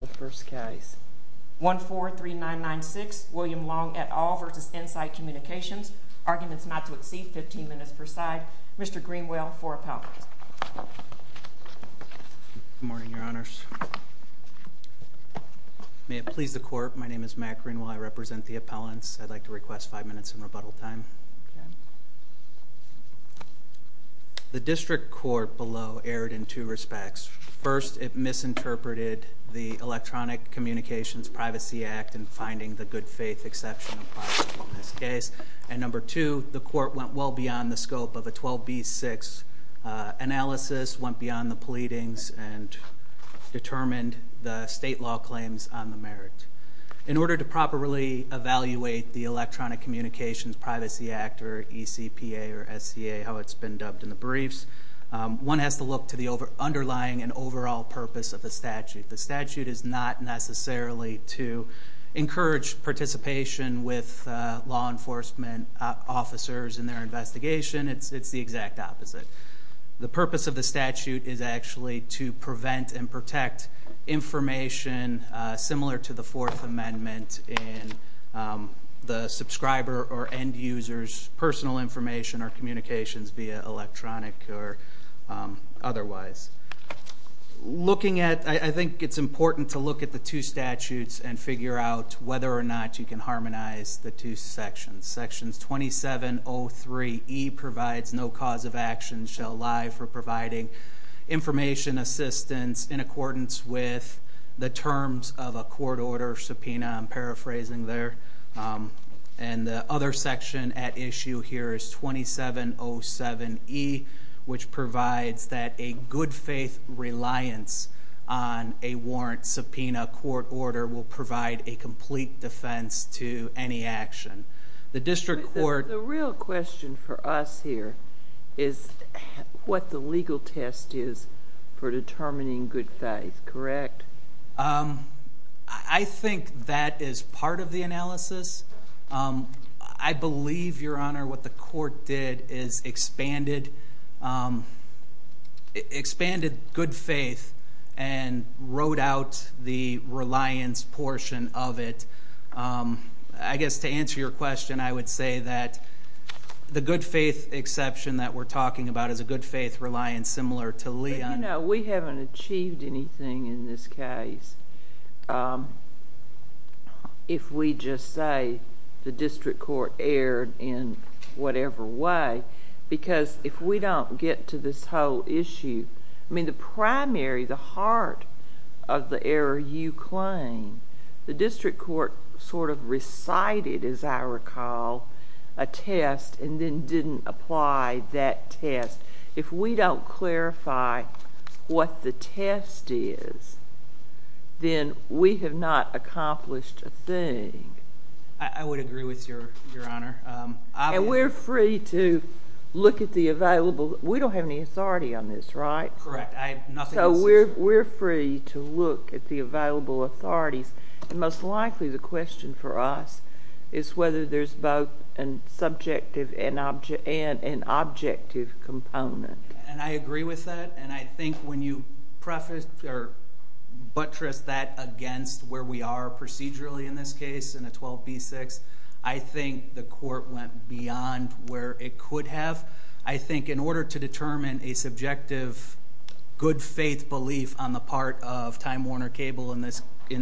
The first case, 143996, William Long et al. v. Insight Communications, arguments not to exceed 15 minutes per side. Mr. Greenwell, for appellate. Good morning, Your Honors. May it please the Court, my name is Matt Greenwell, I represent the appellants. I'd like to request five minutes in rebuttal time. The district court below erred in two respects. First, it misinterpreted the Electronic Communications Privacy Act in finding the good faith exception in this case. And number two, the court went well beyond the scope of a 12B6 analysis, went beyond the pleadings, and determined the state law claims on the merit. In order to properly evaluate the Electronic Communications Privacy Act, or ECPA or SCA, how it's been dubbed in the briefs, one has to look to the underlying and overall purpose of the statute. The statute is not necessarily to encourage participation with law enforcement officers in their investigation, it's the exact opposite. The purpose of the statute is actually to prevent and protect information similar to the Fourth Amendment in the subscriber or end user's personal information or communications via electronic or otherwise. Looking at, I think it's important to look at the two statutes and figure out whether or not you can harmonize the two sections. Section 2703E provides no cause of action, shall lie for providing information assistance in accordance with the terms of a court order subpoena, I'm paraphrasing there. And the other section at issue here is 2707E, which provides that a good faith reliance on a warrant subpoena court order will provide a complete defense to any action. The district court... The real question for us here is what the legal test is for determining good faith, correct? I think that is part of the analysis. I believe, Your Honor, what the court did is expanded good faith and wrote out the reliance portion of it. I guess to answer your question, I would say that the good faith exception that we're talking about is a good faith reliance similar to Leon. We haven't achieved anything in this case. If we just say the district court erred in whatever way, because if we don't get to this whole issue, I mean the primary, the heart of the error you claim, the district court sort of recited, as I recall, a test and then didn't apply that test. If we don't clarify what the test is, then we have not accomplished a thing. I would agree with you, Your Honor. And we're free to look at the available. We don't have any authority on this, right? Correct. I have nothing to say. So we're free to look at the available authorities. And most likely the question for us is whether there's both an objective component. And I agree with that. And I think when you buttress that against where we are procedurally in this case, in a 12B6, I think the court went beyond where it could have. I think in order to determine a subjective good faith belief on the part of Time Warner Cable in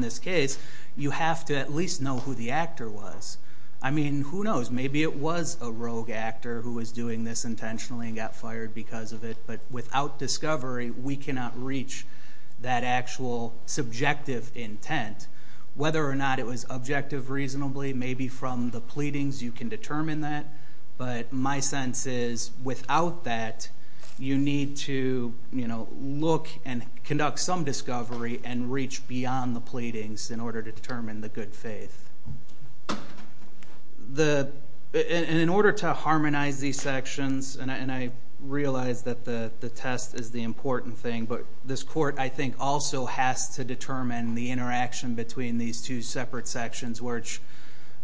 this case, you have to at least know who the actor was. I mean, who knows? Maybe it was a rogue actor who was doing this intentionally and got fired because of it. But without discovery, we cannot reach that actual subjective intent. Whether or not it was objective reasonably, maybe from the pleadings you can determine that. But my sense is without that, you need to look and conduct some discovery and reach beyond the pleadings in order to determine the good faith. In order to harmonize these sections, and I realize that the test is the important thing, but this court I think also has to determine the interaction between these two separate sections, which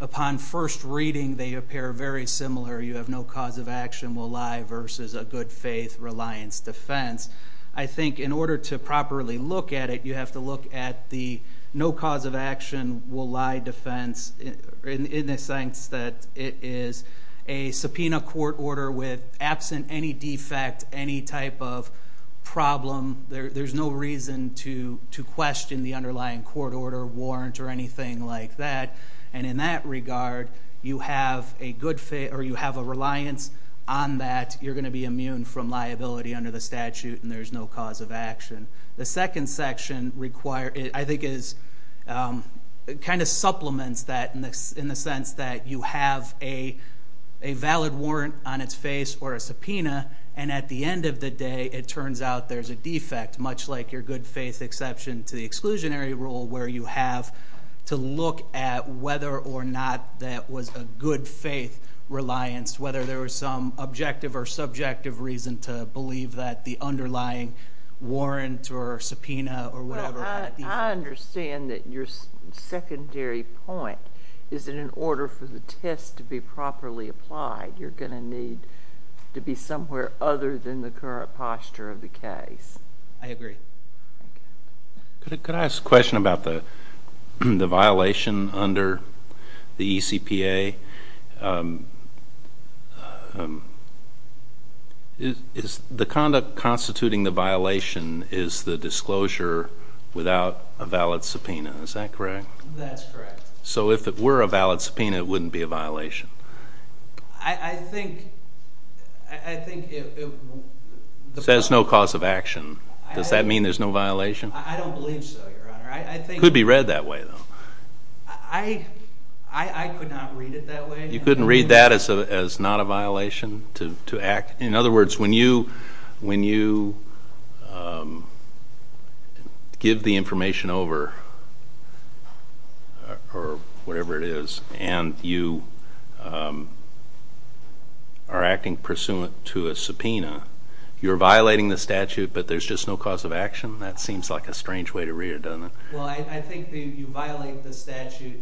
upon first reading, they appear very similar. You have no cause of action will lie versus a good faith reliance defense. I think in order to properly look at it, you have to look at the no cause of action will lie defense in the sense that it is a subpoena court order with absent any defect, any type of problem. There's no reason to question the underlying court order, warrant, or anything like that. And in that regard, you have a reliance on that. You're going to be immune from liability under the statute, and there's no cause of action. The second section I think kind of supplements that in the sense that you have a valid warrant on its face or a subpoena, and at the end of the day it turns out there's a defect, much like your good faith exception to the exclusionary rule, where you have to look at whether or not that was a good faith reliance, whether there was some objective or subjective reason to believe that the underlying warrant or subpoena or whatever had a defect. I understand that your secondary point is that in order for the test to be properly applied, you're going to need to be somewhere other than the current posture of the case. I agree. Could I ask a question about the violation under the ECPA? The conduct constituting the violation is the disclosure without a valid subpoena. Is that correct? That's correct. So if it were a valid subpoena, it wouldn't be a violation? I think it would. It says no cause of action. Does that mean there's no violation? I don't believe so, Your Honor. It could be read that way, though. I could not read it that way. You couldn't read that as not a violation to act? In other words, when you give the information over or whatever it is and you are acting pursuant to a subpoena, you're violating the statute, but there's just no cause of action? That seems like a strange way to read it, doesn't it? Well, I think you violate the statute.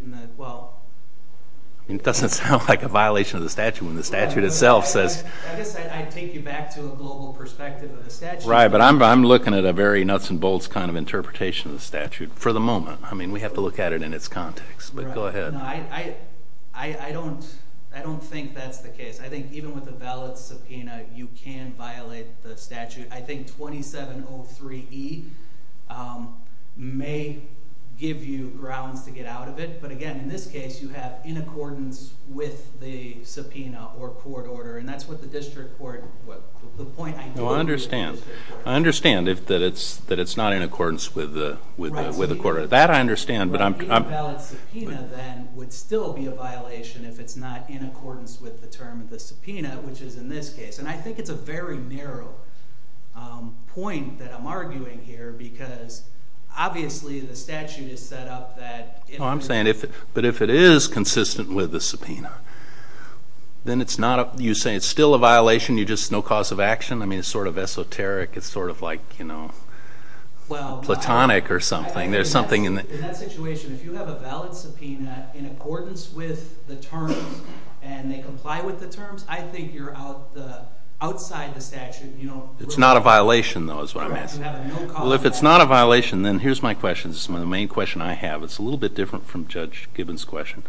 It doesn't sound like a violation of the statute when the statute itself says. I guess I'd take you back to a global perspective of the statute. Right, but I'm looking at a very nuts-and-bolts kind of interpretation of the statute for the moment. I mean, we have to look at it in its context. But go ahead. I don't think that's the case. I think even with a valid subpoena, you can violate the statute. I think 2703E may give you grounds to get out of it. But again, in this case, you have in accordance with the subpoena or court order, and that's what the district court, the point I'm making. No, I understand. I understand that it's not in accordance with the court order. That I understand. But a valid subpoena, then, would still be a violation if it's not in accordance with the term of the subpoena, which is in this case. I think it's a very narrow point that I'm arguing here because obviously the statute has set up that. I'm saying, but if it is consistent with the subpoena, then you say it's still a violation, just no cause of action? I mean, it's sort of esoteric. It's sort of like platonic or something. In that situation, if you have a valid subpoena in accordance with the terms and they comply with the terms, I think you're outside the statute. It's not a violation, though, is what I'm asking. You have a no cause of action. Well, if it's not a violation, then here's my question. This is the main question I have. It's a little bit different from Judge Gibbons' question.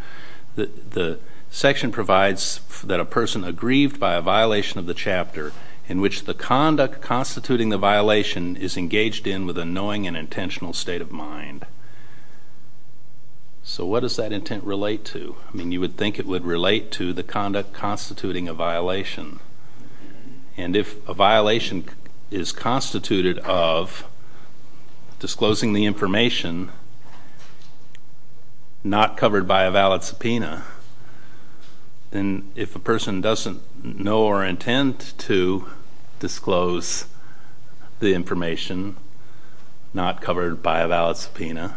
The section provides that a person aggrieved by a violation of the chapter in which the conduct constituting the violation is engaged in with a knowing and intentional state of mind. So what does that intent relate to? I mean, you would think it would relate to the conduct constituting a violation. And if a violation is constituted of disclosing the information not covered by a valid subpoena, then if a person doesn't know or intend to disclose the information not covered by a valid subpoena,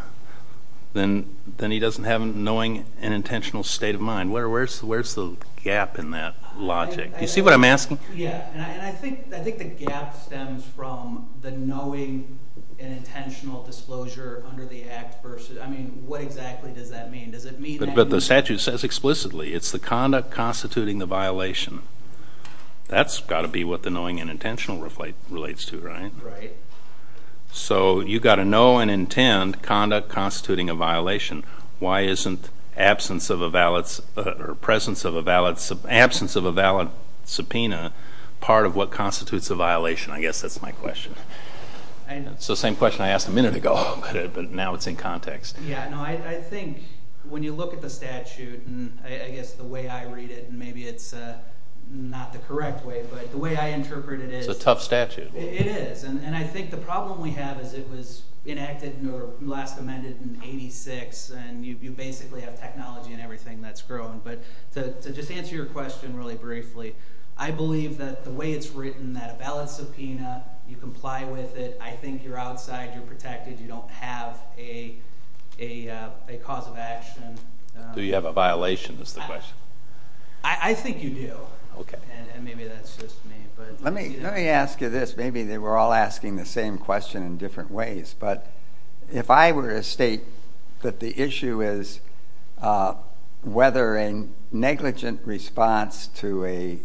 then he doesn't have a knowing and intentional state of mind. Where's the gap in that logic? Do you see what I'm asking? Yeah, and I think the gap stems from the knowing and intentional disclosure under the Act versus, I mean, what exactly does that mean? But the statute says explicitly it's the conduct constituting the violation. That's got to be what the knowing and intentional relates to, right? Right. So you've got to know and intend conduct constituting a violation. Why isn't absence of a valid subpoena part of what constitutes a violation? I guess that's my question. It's the same question I asked a minute ago, but now it's in context. Yeah. No, I think when you look at the statute, and I guess the way I read it, and maybe it's not the correct way, but the way I interpret it is. It's a tough statute. It is. And I think the problem we have is it was enacted or last amended in 86, and you basically have technology and everything that's grown. But to just answer your question really briefly, I believe that the way it's written, that a valid subpoena, you comply with it, I think you're outside, you're protected, you don't have a cause of action. Do you have a violation is the question. I think you do. Okay. And maybe that's just me. Let me ask you this. Maybe they were all asking the same question in different ways. But if I were to state that the issue is whether a negligent response to a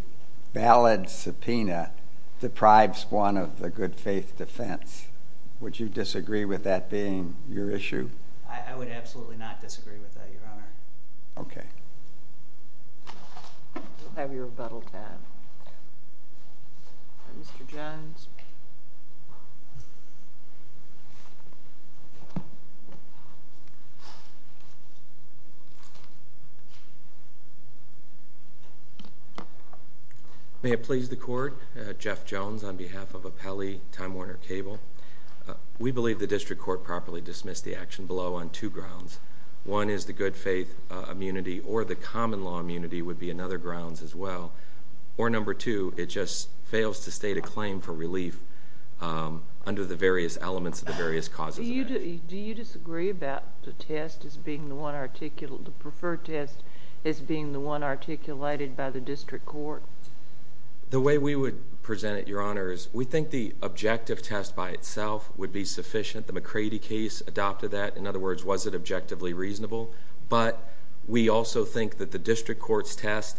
valid subpoena deprives one of the good faith defense, would you disagree with that being your issue? I would absolutely not disagree with that, Your Honor. Okay. We'll have your rebuttal tab. May it please the Court, Jeff Jones on behalf of Apelli, Time Warner Cable. We believe the district court properly dismissed the action below on two grounds. One is the good faith immunity or the common law immunity would be another grounds as well. Or number two, it just fails to state a claim for relief under the various elements of the various causes of action. Do you disagree about the test as being the one articulated, the preferred test as being the one articulated by the district court? The way we would present it, Your Honor, is we think the objective test by itself would be sufficient. The McCrady case adopted that. In other words, was it objectively reasonable? But we also think that the district court's test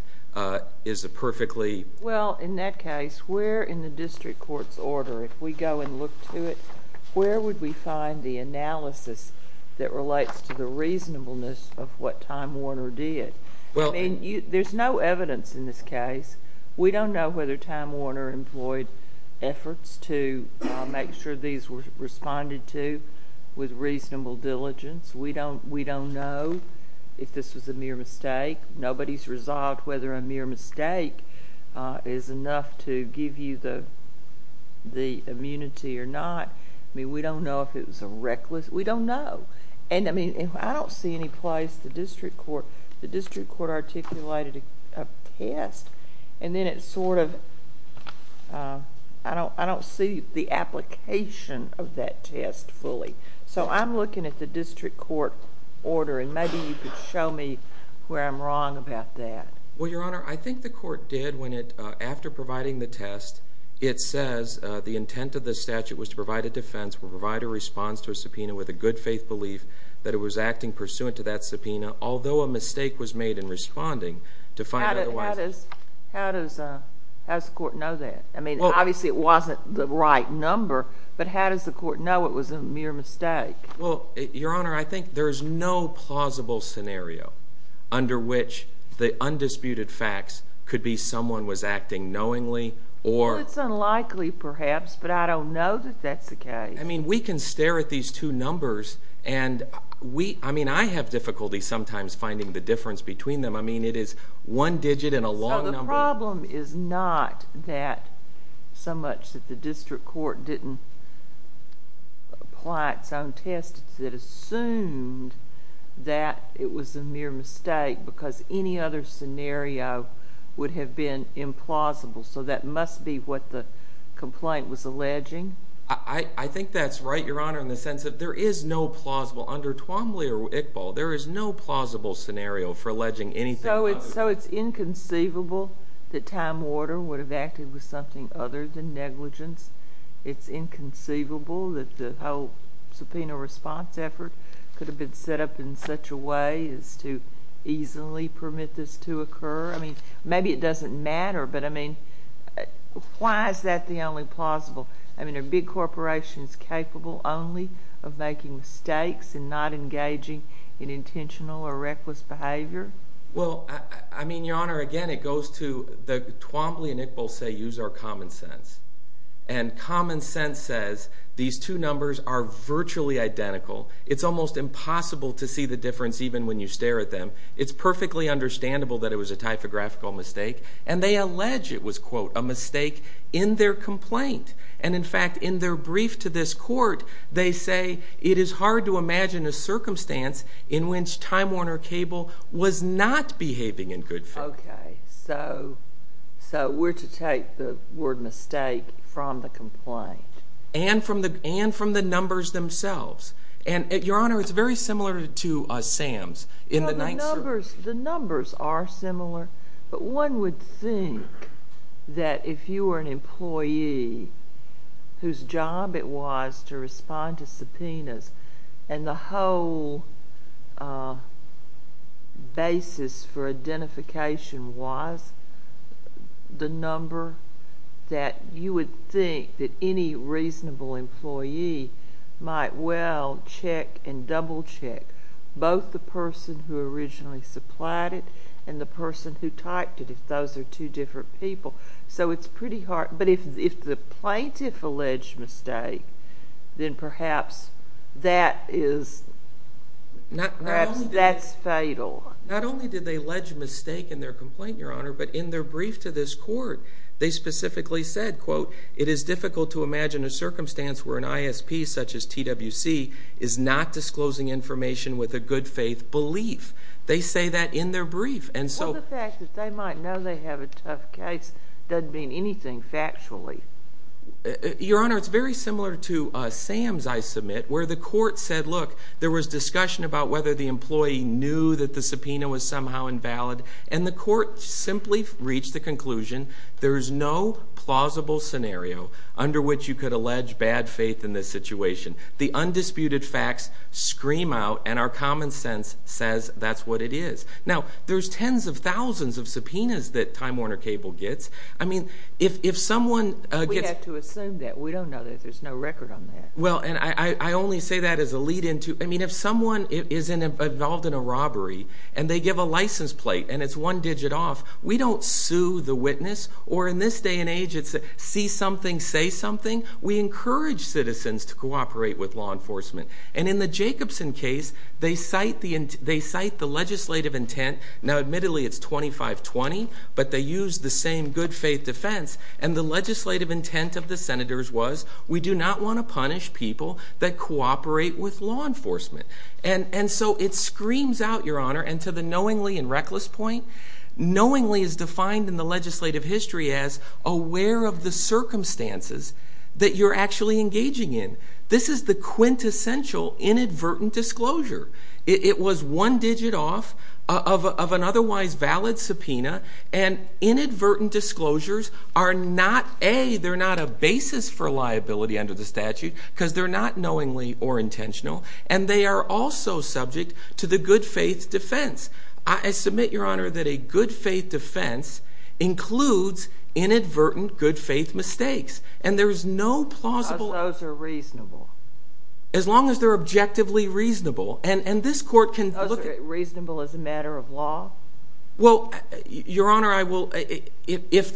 is a perfectly... Well, in that case, where in the district court's order, if we go and look to it, where would we find the analysis that relates to the reasonableness of what Time Warner did? There's no evidence in this case. We don't know whether Time Warner employed efforts to make sure these were responded to with reasonable diligence. We don't know if this was a mere mistake. Nobody's resolved whether a mere mistake is enough to give you the immunity or not. I mean, we don't know if it was a reckless... we don't know. I don't see any place the district court articulated a test, and then it sort of... I don't see the application of that test fully. So I'm looking at the district court order, and maybe you could show me where I'm wrong about that. Well, Your Honor, I think the court did when it... after providing the test, it says the intent of the statute was to provide a defense or provide a response to a subpoena with a good faith belief that it was acting pursuant to that subpoena, although a mistake was made in responding to find otherwise... How does the court know that? I mean, obviously it wasn't the right number, but how does the court know it was a mere mistake? Well, Your Honor, I think there is no plausible scenario under which the undisputed facts could be someone was acting knowingly or... I mean, we can stare at these two numbers, and we... I mean, I have difficulty sometimes finding the difference between them. I mean, it is one digit and a long number. So the problem is not that so much that the district court didn't apply its own test. It assumed that it was a mere mistake, because any other scenario would have been implausible. So that must be what the complaint was alleging? I think that's right, Your Honor, in the sense that there is no plausible... Under Twombly or Iqbal, there is no plausible scenario for alleging anything... So it's inconceivable that Time Warner would have acted with something other than negligence? It's inconceivable that the whole subpoena response effort could have been set up in such a way as to easily permit this to occur? I mean, maybe it doesn't matter, but, I mean, why is that the only plausible? I mean, are big corporations capable only of making mistakes and not engaging in intentional or reckless behavior? Well, I mean, Your Honor, again, it goes to... Twombly and Iqbal say, use our common sense, and common sense says these two numbers are virtually identical. It's almost impossible to see the difference even when you stare at them. It's perfectly understandable that it was a typographical mistake, and they allege it was, quote, a mistake in their complaint. And, in fact, in their brief to this court, they say it is hard to imagine a circumstance in which Time Warner Cable was not behaving in good faith. Okay. So we're to take the word mistake from the complaint? And from the numbers themselves. And, Your Honor, it's very similar to Sam's in the Ninth Circuit. The numbers are similar, but one would think that if you were an employee whose job it was to respond to subpoenas, and the whole basis for identification was the number, that you would think that any reasonable employee might well check and double check both the person who originally supplied it and the person who typed it, if those are two different people. So it's pretty hard. But if the plaintiff alleged mistake, then perhaps that is fatal. Not only did they allege mistake in their complaint, Your Honor, but in their brief to this court they specifically said, quote, for an ISP such as TWC is not disclosing information with a good faith belief. They say that in their brief. Well, the fact that they might know they have a tough case doesn't mean anything factually. Your Honor, it's very similar to Sam's, I submit, where the court said, look, there was discussion about whether the employee knew that the subpoena was somehow invalid, and the court simply reached the conclusion there is no plausible scenario under which you could allege bad faith in this situation. The undisputed facts scream out, and our common sense says that's what it is. Now, there's tens of thousands of subpoenas that Time Warner Cable gets. I mean, if someone gets... We have to assume that. We don't know that. There's no record on that. Well, and I only say that as a lead-in to... I mean, if someone is involved in a robbery, and they give a license plate, and it's one digit off, we don't sue the witness, or in this day and age, it's see something, say something. We encourage citizens to cooperate with law enforcement. And in the Jacobson case, they cite the legislative intent. Now, admittedly, it's 25-20, but they use the same good faith defense, and the legislative intent of the senators was we do not want to punish people that cooperate with law enforcement. And so it screams out, Your Honor, and to the knowingly and reckless point, knowingly is defined in the legislative history as aware of the circumstances that you're actually engaging in. This is the quintessential inadvertent disclosure. It was one digit off of an otherwise valid subpoena, and inadvertent disclosures are not a, they're not a basis for liability under the statute because they're not knowingly or intentional, and they are also subject to the good faith defense. I submit, Your Honor, that a good faith defense includes inadvertent good faith mistakes, and there is no plausible. Because those are reasonable. As long as they're objectively reasonable. And this court can look at. Those are reasonable as a matter of law? Well, Your Honor, I will, if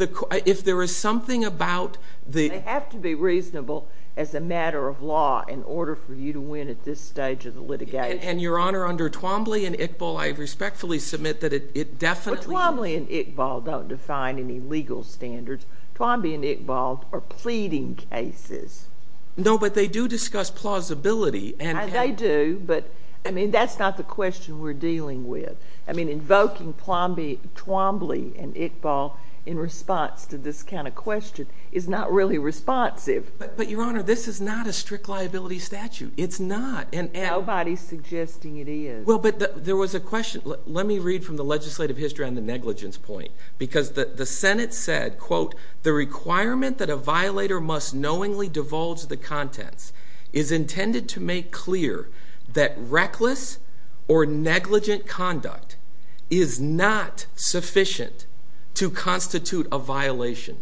there is something about the. They have to be reasonable as a matter of law in order for you to win at this stage of the litigation. And, Your Honor, under Twombly and Iqbal, I respectfully submit that it definitely. Twombly and Iqbal don't define any legal standards. Twombly and Iqbal are pleading cases. No, but they do discuss plausibility. They do, but that's not the question we're dealing with. Invoking Twombly and Iqbal in response to this kind of question is not really responsive. But, Your Honor, this is not a strict liability statute. It's not. Nobody is suggesting it is. Well, but there was a question. Let me read from the legislative history on the negligence point. Because the Senate said, quote, the requirement that a violator must knowingly divulge the contents is intended to make clear that reckless or negligent conduct is not sufficient to constitute a violation.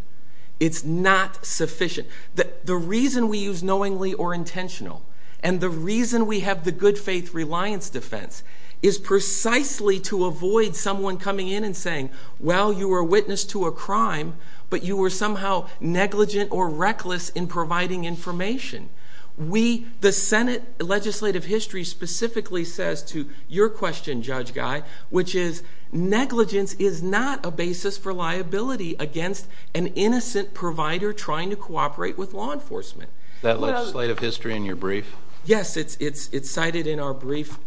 It's not sufficient. The reason we use knowingly or intentional, and the reason we have the good faith reliance defense, is precisely to avoid someone coming in and saying, well, you were a witness to a crime, but you were somehow negligent or reckless in providing information. We, the Senate legislative history, specifically says to your question, Judge Guy, which is negligence is not a basis for liability against an innocent provider trying to cooperate with law enforcement. Is that legislative history in your brief? Yes, it's cited in our brief.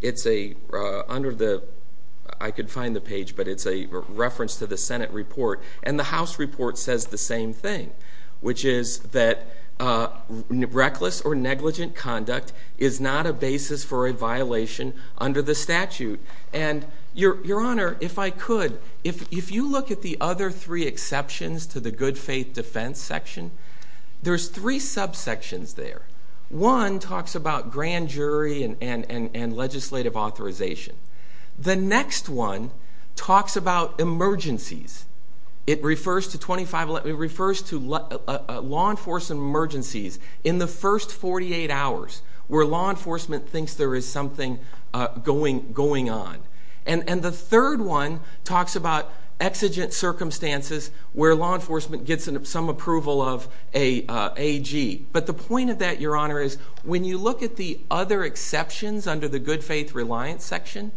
It's under the, I could find the page, but it's a reference to the Senate report. And the House report says the same thing, which is that reckless or negligent conduct is not a basis for a violation under the statute. And, Your Honor, if I could, if you look at the other three exceptions to the good faith defense section, there's three subsections there. One talks about grand jury and legislative authorization. The next one talks about emergencies. It refers to law enforcement emergencies in the first 48 hours where law enforcement thinks there is something going on. And the third one talks about exigent circumstances where law enforcement gets some approval of an AG. But the point of that, Your Honor, is when you look at the other exceptions under the good faith reliance section,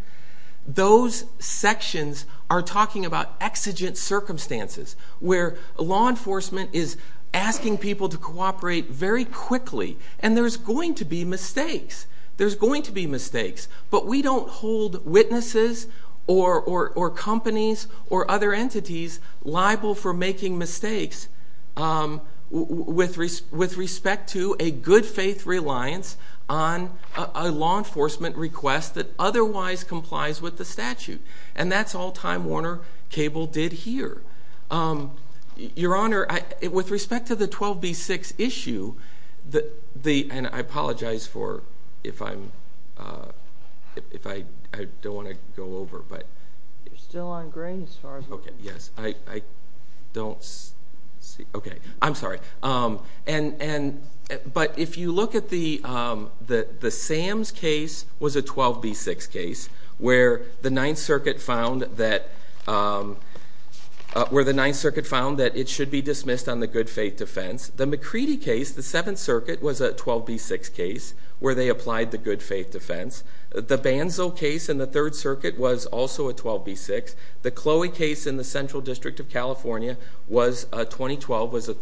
those sections are talking about exigent circumstances where law enforcement is asking people to cooperate very quickly. And there's going to be mistakes. There's going to be mistakes. But we don't hold witnesses or companies or other entities liable for making mistakes with respect to a good faith reliance on a law enforcement request that otherwise complies with the statute. And that's all Time Warner Cable did here. Your Honor, with respect to the 12B6 issue, and I apologize for if I don't want to go over. You're still on green as far as we can see. Okay, yes. I don't see. Okay. I'm sorry. But if you look at the Sam's case was a 12B6 case where the Ninth Circuit found that it should be dismissed on the good faith defense. The McCready case, the Seventh Circuit, was a 12B6 case where they applied the good faith defense. The Banzo case in the Third Circuit was also a 12B6. The Chloe case in the Central District of California was 2012, was a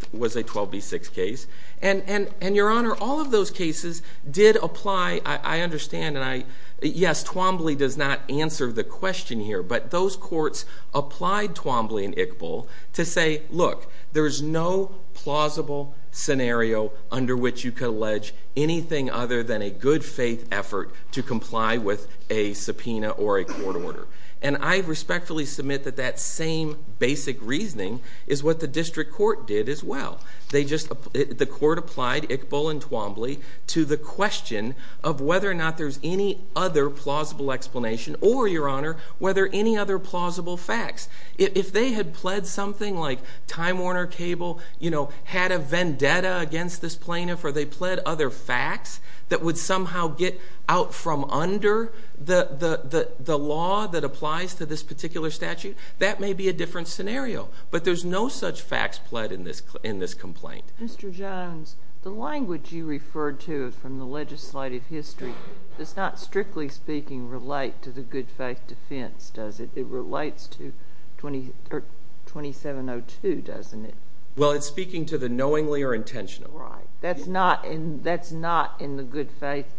12B6 case. And, Your Honor, all of those cases did apply. I understand. And, yes, Twombly does not answer the question here. But those courts applied Twombly and Iqbal to say, look, there is no plausible scenario under which you could allege anything other than a good faith effort to comply with a subpoena or a court order. And I respectfully submit that that same basic reasoning is what the district court did as well. The court applied Iqbal and Twombly to the question of whether or not there's any other plausible explanation or, Your Honor, whether any other plausible facts. If they had pled something like Time Warner Cable, you know, had a vendetta against this plaintiff, or they pled other facts that would somehow get out from under the law that applies to this particular statute, that may be a different scenario. But there's no such facts pled in this complaint. Mr. Jones, the language you referred to from the legislative history does not, strictly speaking, relate to the good faith defense, does it? It relates to 2702, doesn't it? Well, it's speaking to the knowingly or intentionally. Right. That's not in the good faith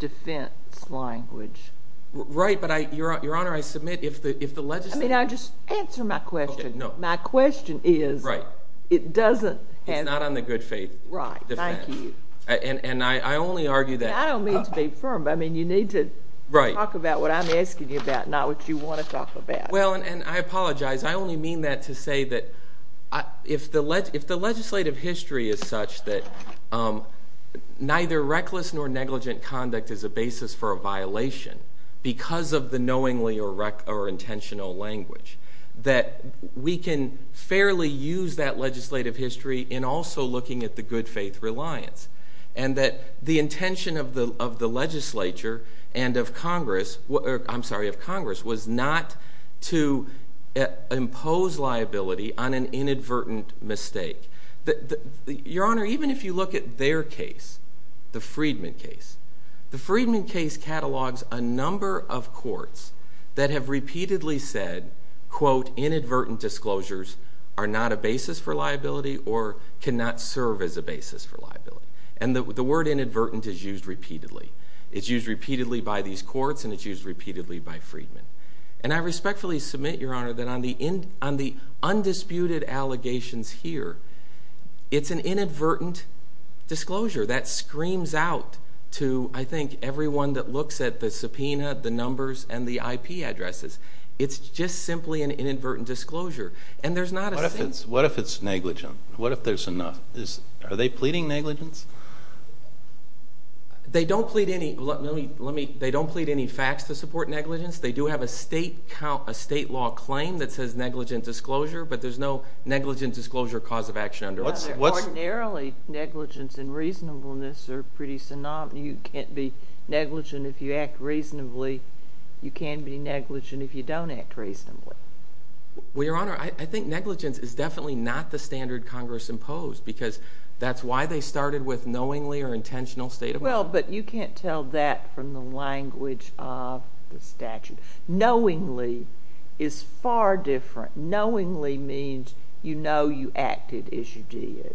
defense language. But, Your Honor, I submit if the legislative – Let me just answer my question. My question is it doesn't have – It's not on the good faith defense. Right. Thank you. And I only argue that – I don't mean to be firm, but I mean you need to talk about what I'm asking you about, not what you want to talk about. Well, and I apologize. I only mean that to say that if the legislative history is such that neither reckless nor negligent conduct is a basis for a violation because of the knowingly or intentional language, that we can fairly use that legislative history in also looking at the good faith reliance, and that the intention of the legislature and of Congress – I'm sorry, of Congress was not to impose liability on an inadvertent mistake. Your Honor, even if you look at their case, the Friedman case, the Friedman case catalogs a number of courts that have repeatedly said, quote, And the word inadvertent is used repeatedly. It's used repeatedly by these courts, and it's used repeatedly by Friedman. And I respectfully submit, Your Honor, that on the undisputed allegations here, it's an inadvertent disclosure that screams out to, I think, everyone that looks at the subpoena, the numbers, and the IP addresses. It's just simply an inadvertent disclosure. And there's not a – What if it's negligent? What if there's – Are they pleading negligence? They don't plead any – let me – they don't plead any facts to support negligence. They do have a state law claim that says negligent disclosure, but there's no negligent disclosure cause of action under it. What's – Ordinarily, negligence and reasonableness are pretty synonymous. You can't be negligent if you act reasonably. You can be negligent if you don't act reasonably. Well, Your Honor, I think negligence is definitely not the standard Congress imposed because that's why they started with knowingly or intentional state of mind. Well, but you can't tell that from the language of the statute. Knowingly is far different. Knowingly means you know you acted as you did.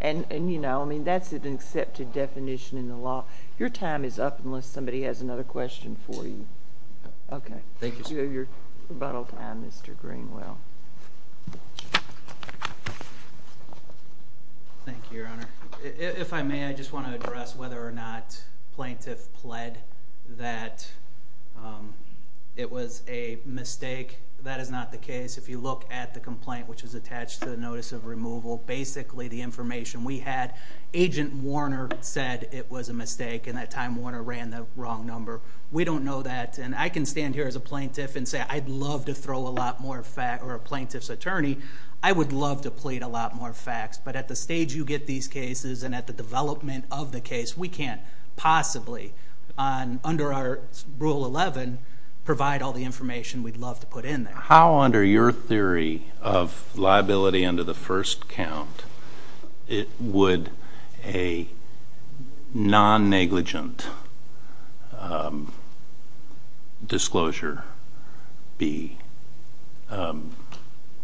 And, you know, I mean, that's an accepted definition in the law. Your time is up unless somebody has another question for you. Okay. Thank you, sir. Thank you. Your rebuttal time, Mr. Greenwell. Thank you, Your Honor. If I may, I just want to address whether or not plaintiff pled that it was a mistake. That is not the case. If you look at the complaint, which is attached to the notice of removal, basically the information we had, Agent Warner said it was a mistake and that time Warner ran the wrong number. We don't know that. And I can stand here as a plaintiff and say I'd love to throw a lot more facts, or a plaintiff's attorney, I would love to plead a lot more facts. But at the stage you get these cases and at the development of the case, we can't possibly under our Rule 11 provide all the information we'd love to put in there. How under your theory of liability under the first count would a non-negligent disclosure be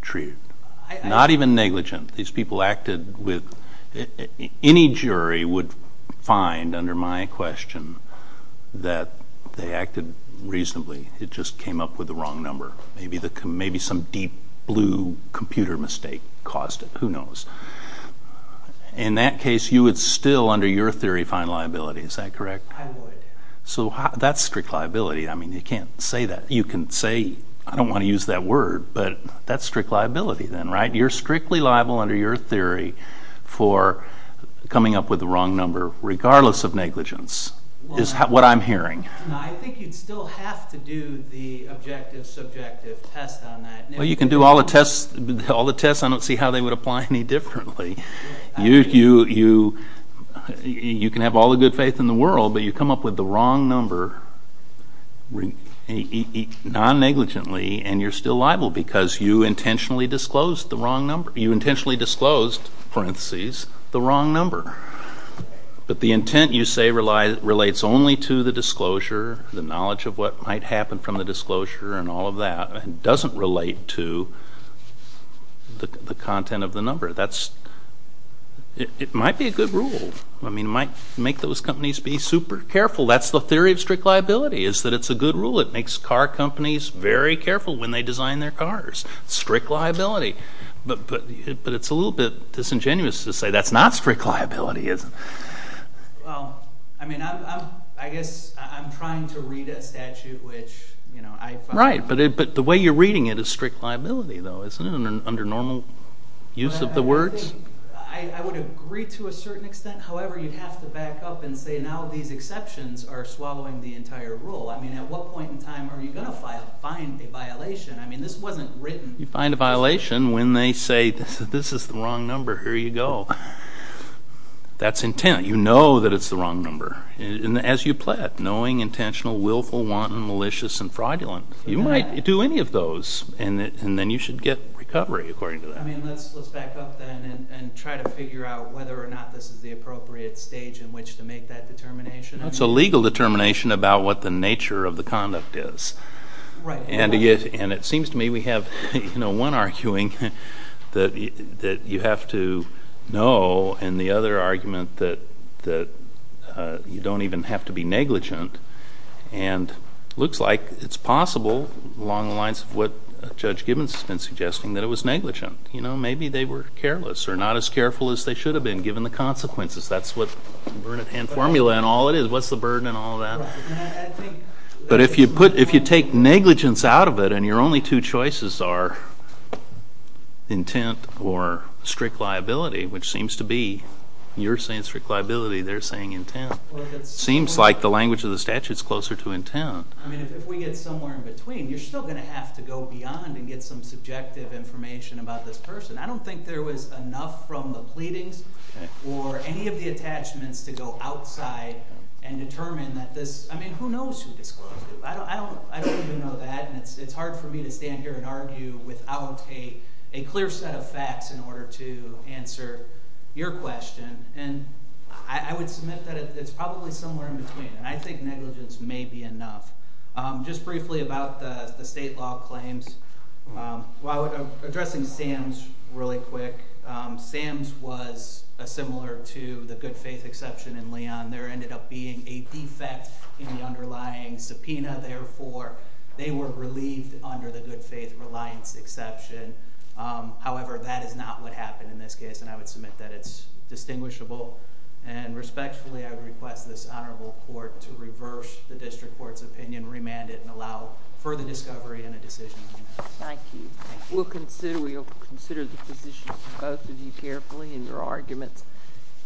treated? Not even negligent. These people acted with any jury would find under my question that they acted reasonably. It just came up with the wrong number. Maybe some deep blue computer mistake caused it. Who knows? In that case, you would still under your theory find liability. Is that correct? I would. So that's strict liability. I mean, you can't say that. You can say, I don't want to use that word, but that's strict liability then, right? You're strictly liable under your theory for coming up with the wrong number regardless of negligence is what I'm hearing. I think you'd still have to do the objective subjective test on that. Well, you can do all the tests. I don't see how they would apply any differently. You can have all the good faith in the world, but you come up with the wrong number non-negligently, and you're still liable because you intentionally disclosed the wrong number. You intentionally disclosed, parentheses, the wrong number. But the intent, you say, relates only to the disclosure, the knowledge of what might happen from the disclosure and all of that. It doesn't relate to the content of the number. It might be a good rule. I mean, it might make those companies be super careful. That's the theory of strict liability is that it's a good rule. It makes car companies very careful when they design their cars. Strict liability. But it's a little bit disingenuous to say that's not strict liability, isn't it? Well, I mean, I guess I'm trying to read a statute which I find not. Right, but the way you're reading it is strict liability, though, isn't it, under normal use of the words? I would agree to a certain extent. However, you'd have to back up and say now these exceptions are swallowing the entire rule. I mean, at what point in time are you going to find a violation? I mean, this wasn't written. You find a violation when they say this is the wrong number. Here you go. That's intent. You know that it's the wrong number. As you pled, knowing, intentional, willful, wanton, malicious, and fraudulent. You might do any of those, and then you should get recovery according to that. I mean, let's back up then and try to figure out whether or not this is the appropriate stage in which to make that determination. It's a legal determination about what the nature of the conduct is. Right. And it seems to me we have, you know, one arguing that you have to know, and the other argument that you don't even have to be negligent. And it looks like it's possible, along the lines of what Judge Gibbons has been suggesting, that it was negligent. You know, maybe they were careless or not as careful as they should have been, given the consequences. That's what the Burnett Hand Formula and all it is. What's the burden and all that? But if you take negligence out of it and your only two choices are intent or strict liability, which seems to be, you're saying strict liability, they're saying intent. It seems like the language of the statute is closer to intent. I mean, if we get somewhere in between, you're still going to have to go beyond and get some subjective information about this person. I don't think there was enough from the pleadings or any of the attachments to go outside and determine that this, I mean, who knows who disclosed it? I don't even know that, and it's hard for me to stand here and argue without a clear set of facts in order to answer your question. And I would submit that it's probably somewhere in between, and I think negligence may be enough. Just briefly about the state law claims. Well, addressing Sam's really quick. Sam's was similar to the good faith exception in Leon. There ended up being a defect in the underlying subpoena. Therefore, they were relieved under the good faith reliance exception. However, that is not what happened in this case, and I would submit that it's distinguishable. And respectfully, I would request this honorable court to reverse the district court's opinion, remand it, and allow further discovery and a decision. Thank you. We'll consider the positions of both of you carefully in your arguments.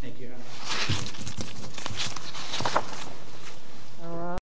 Thank you, Your Honor.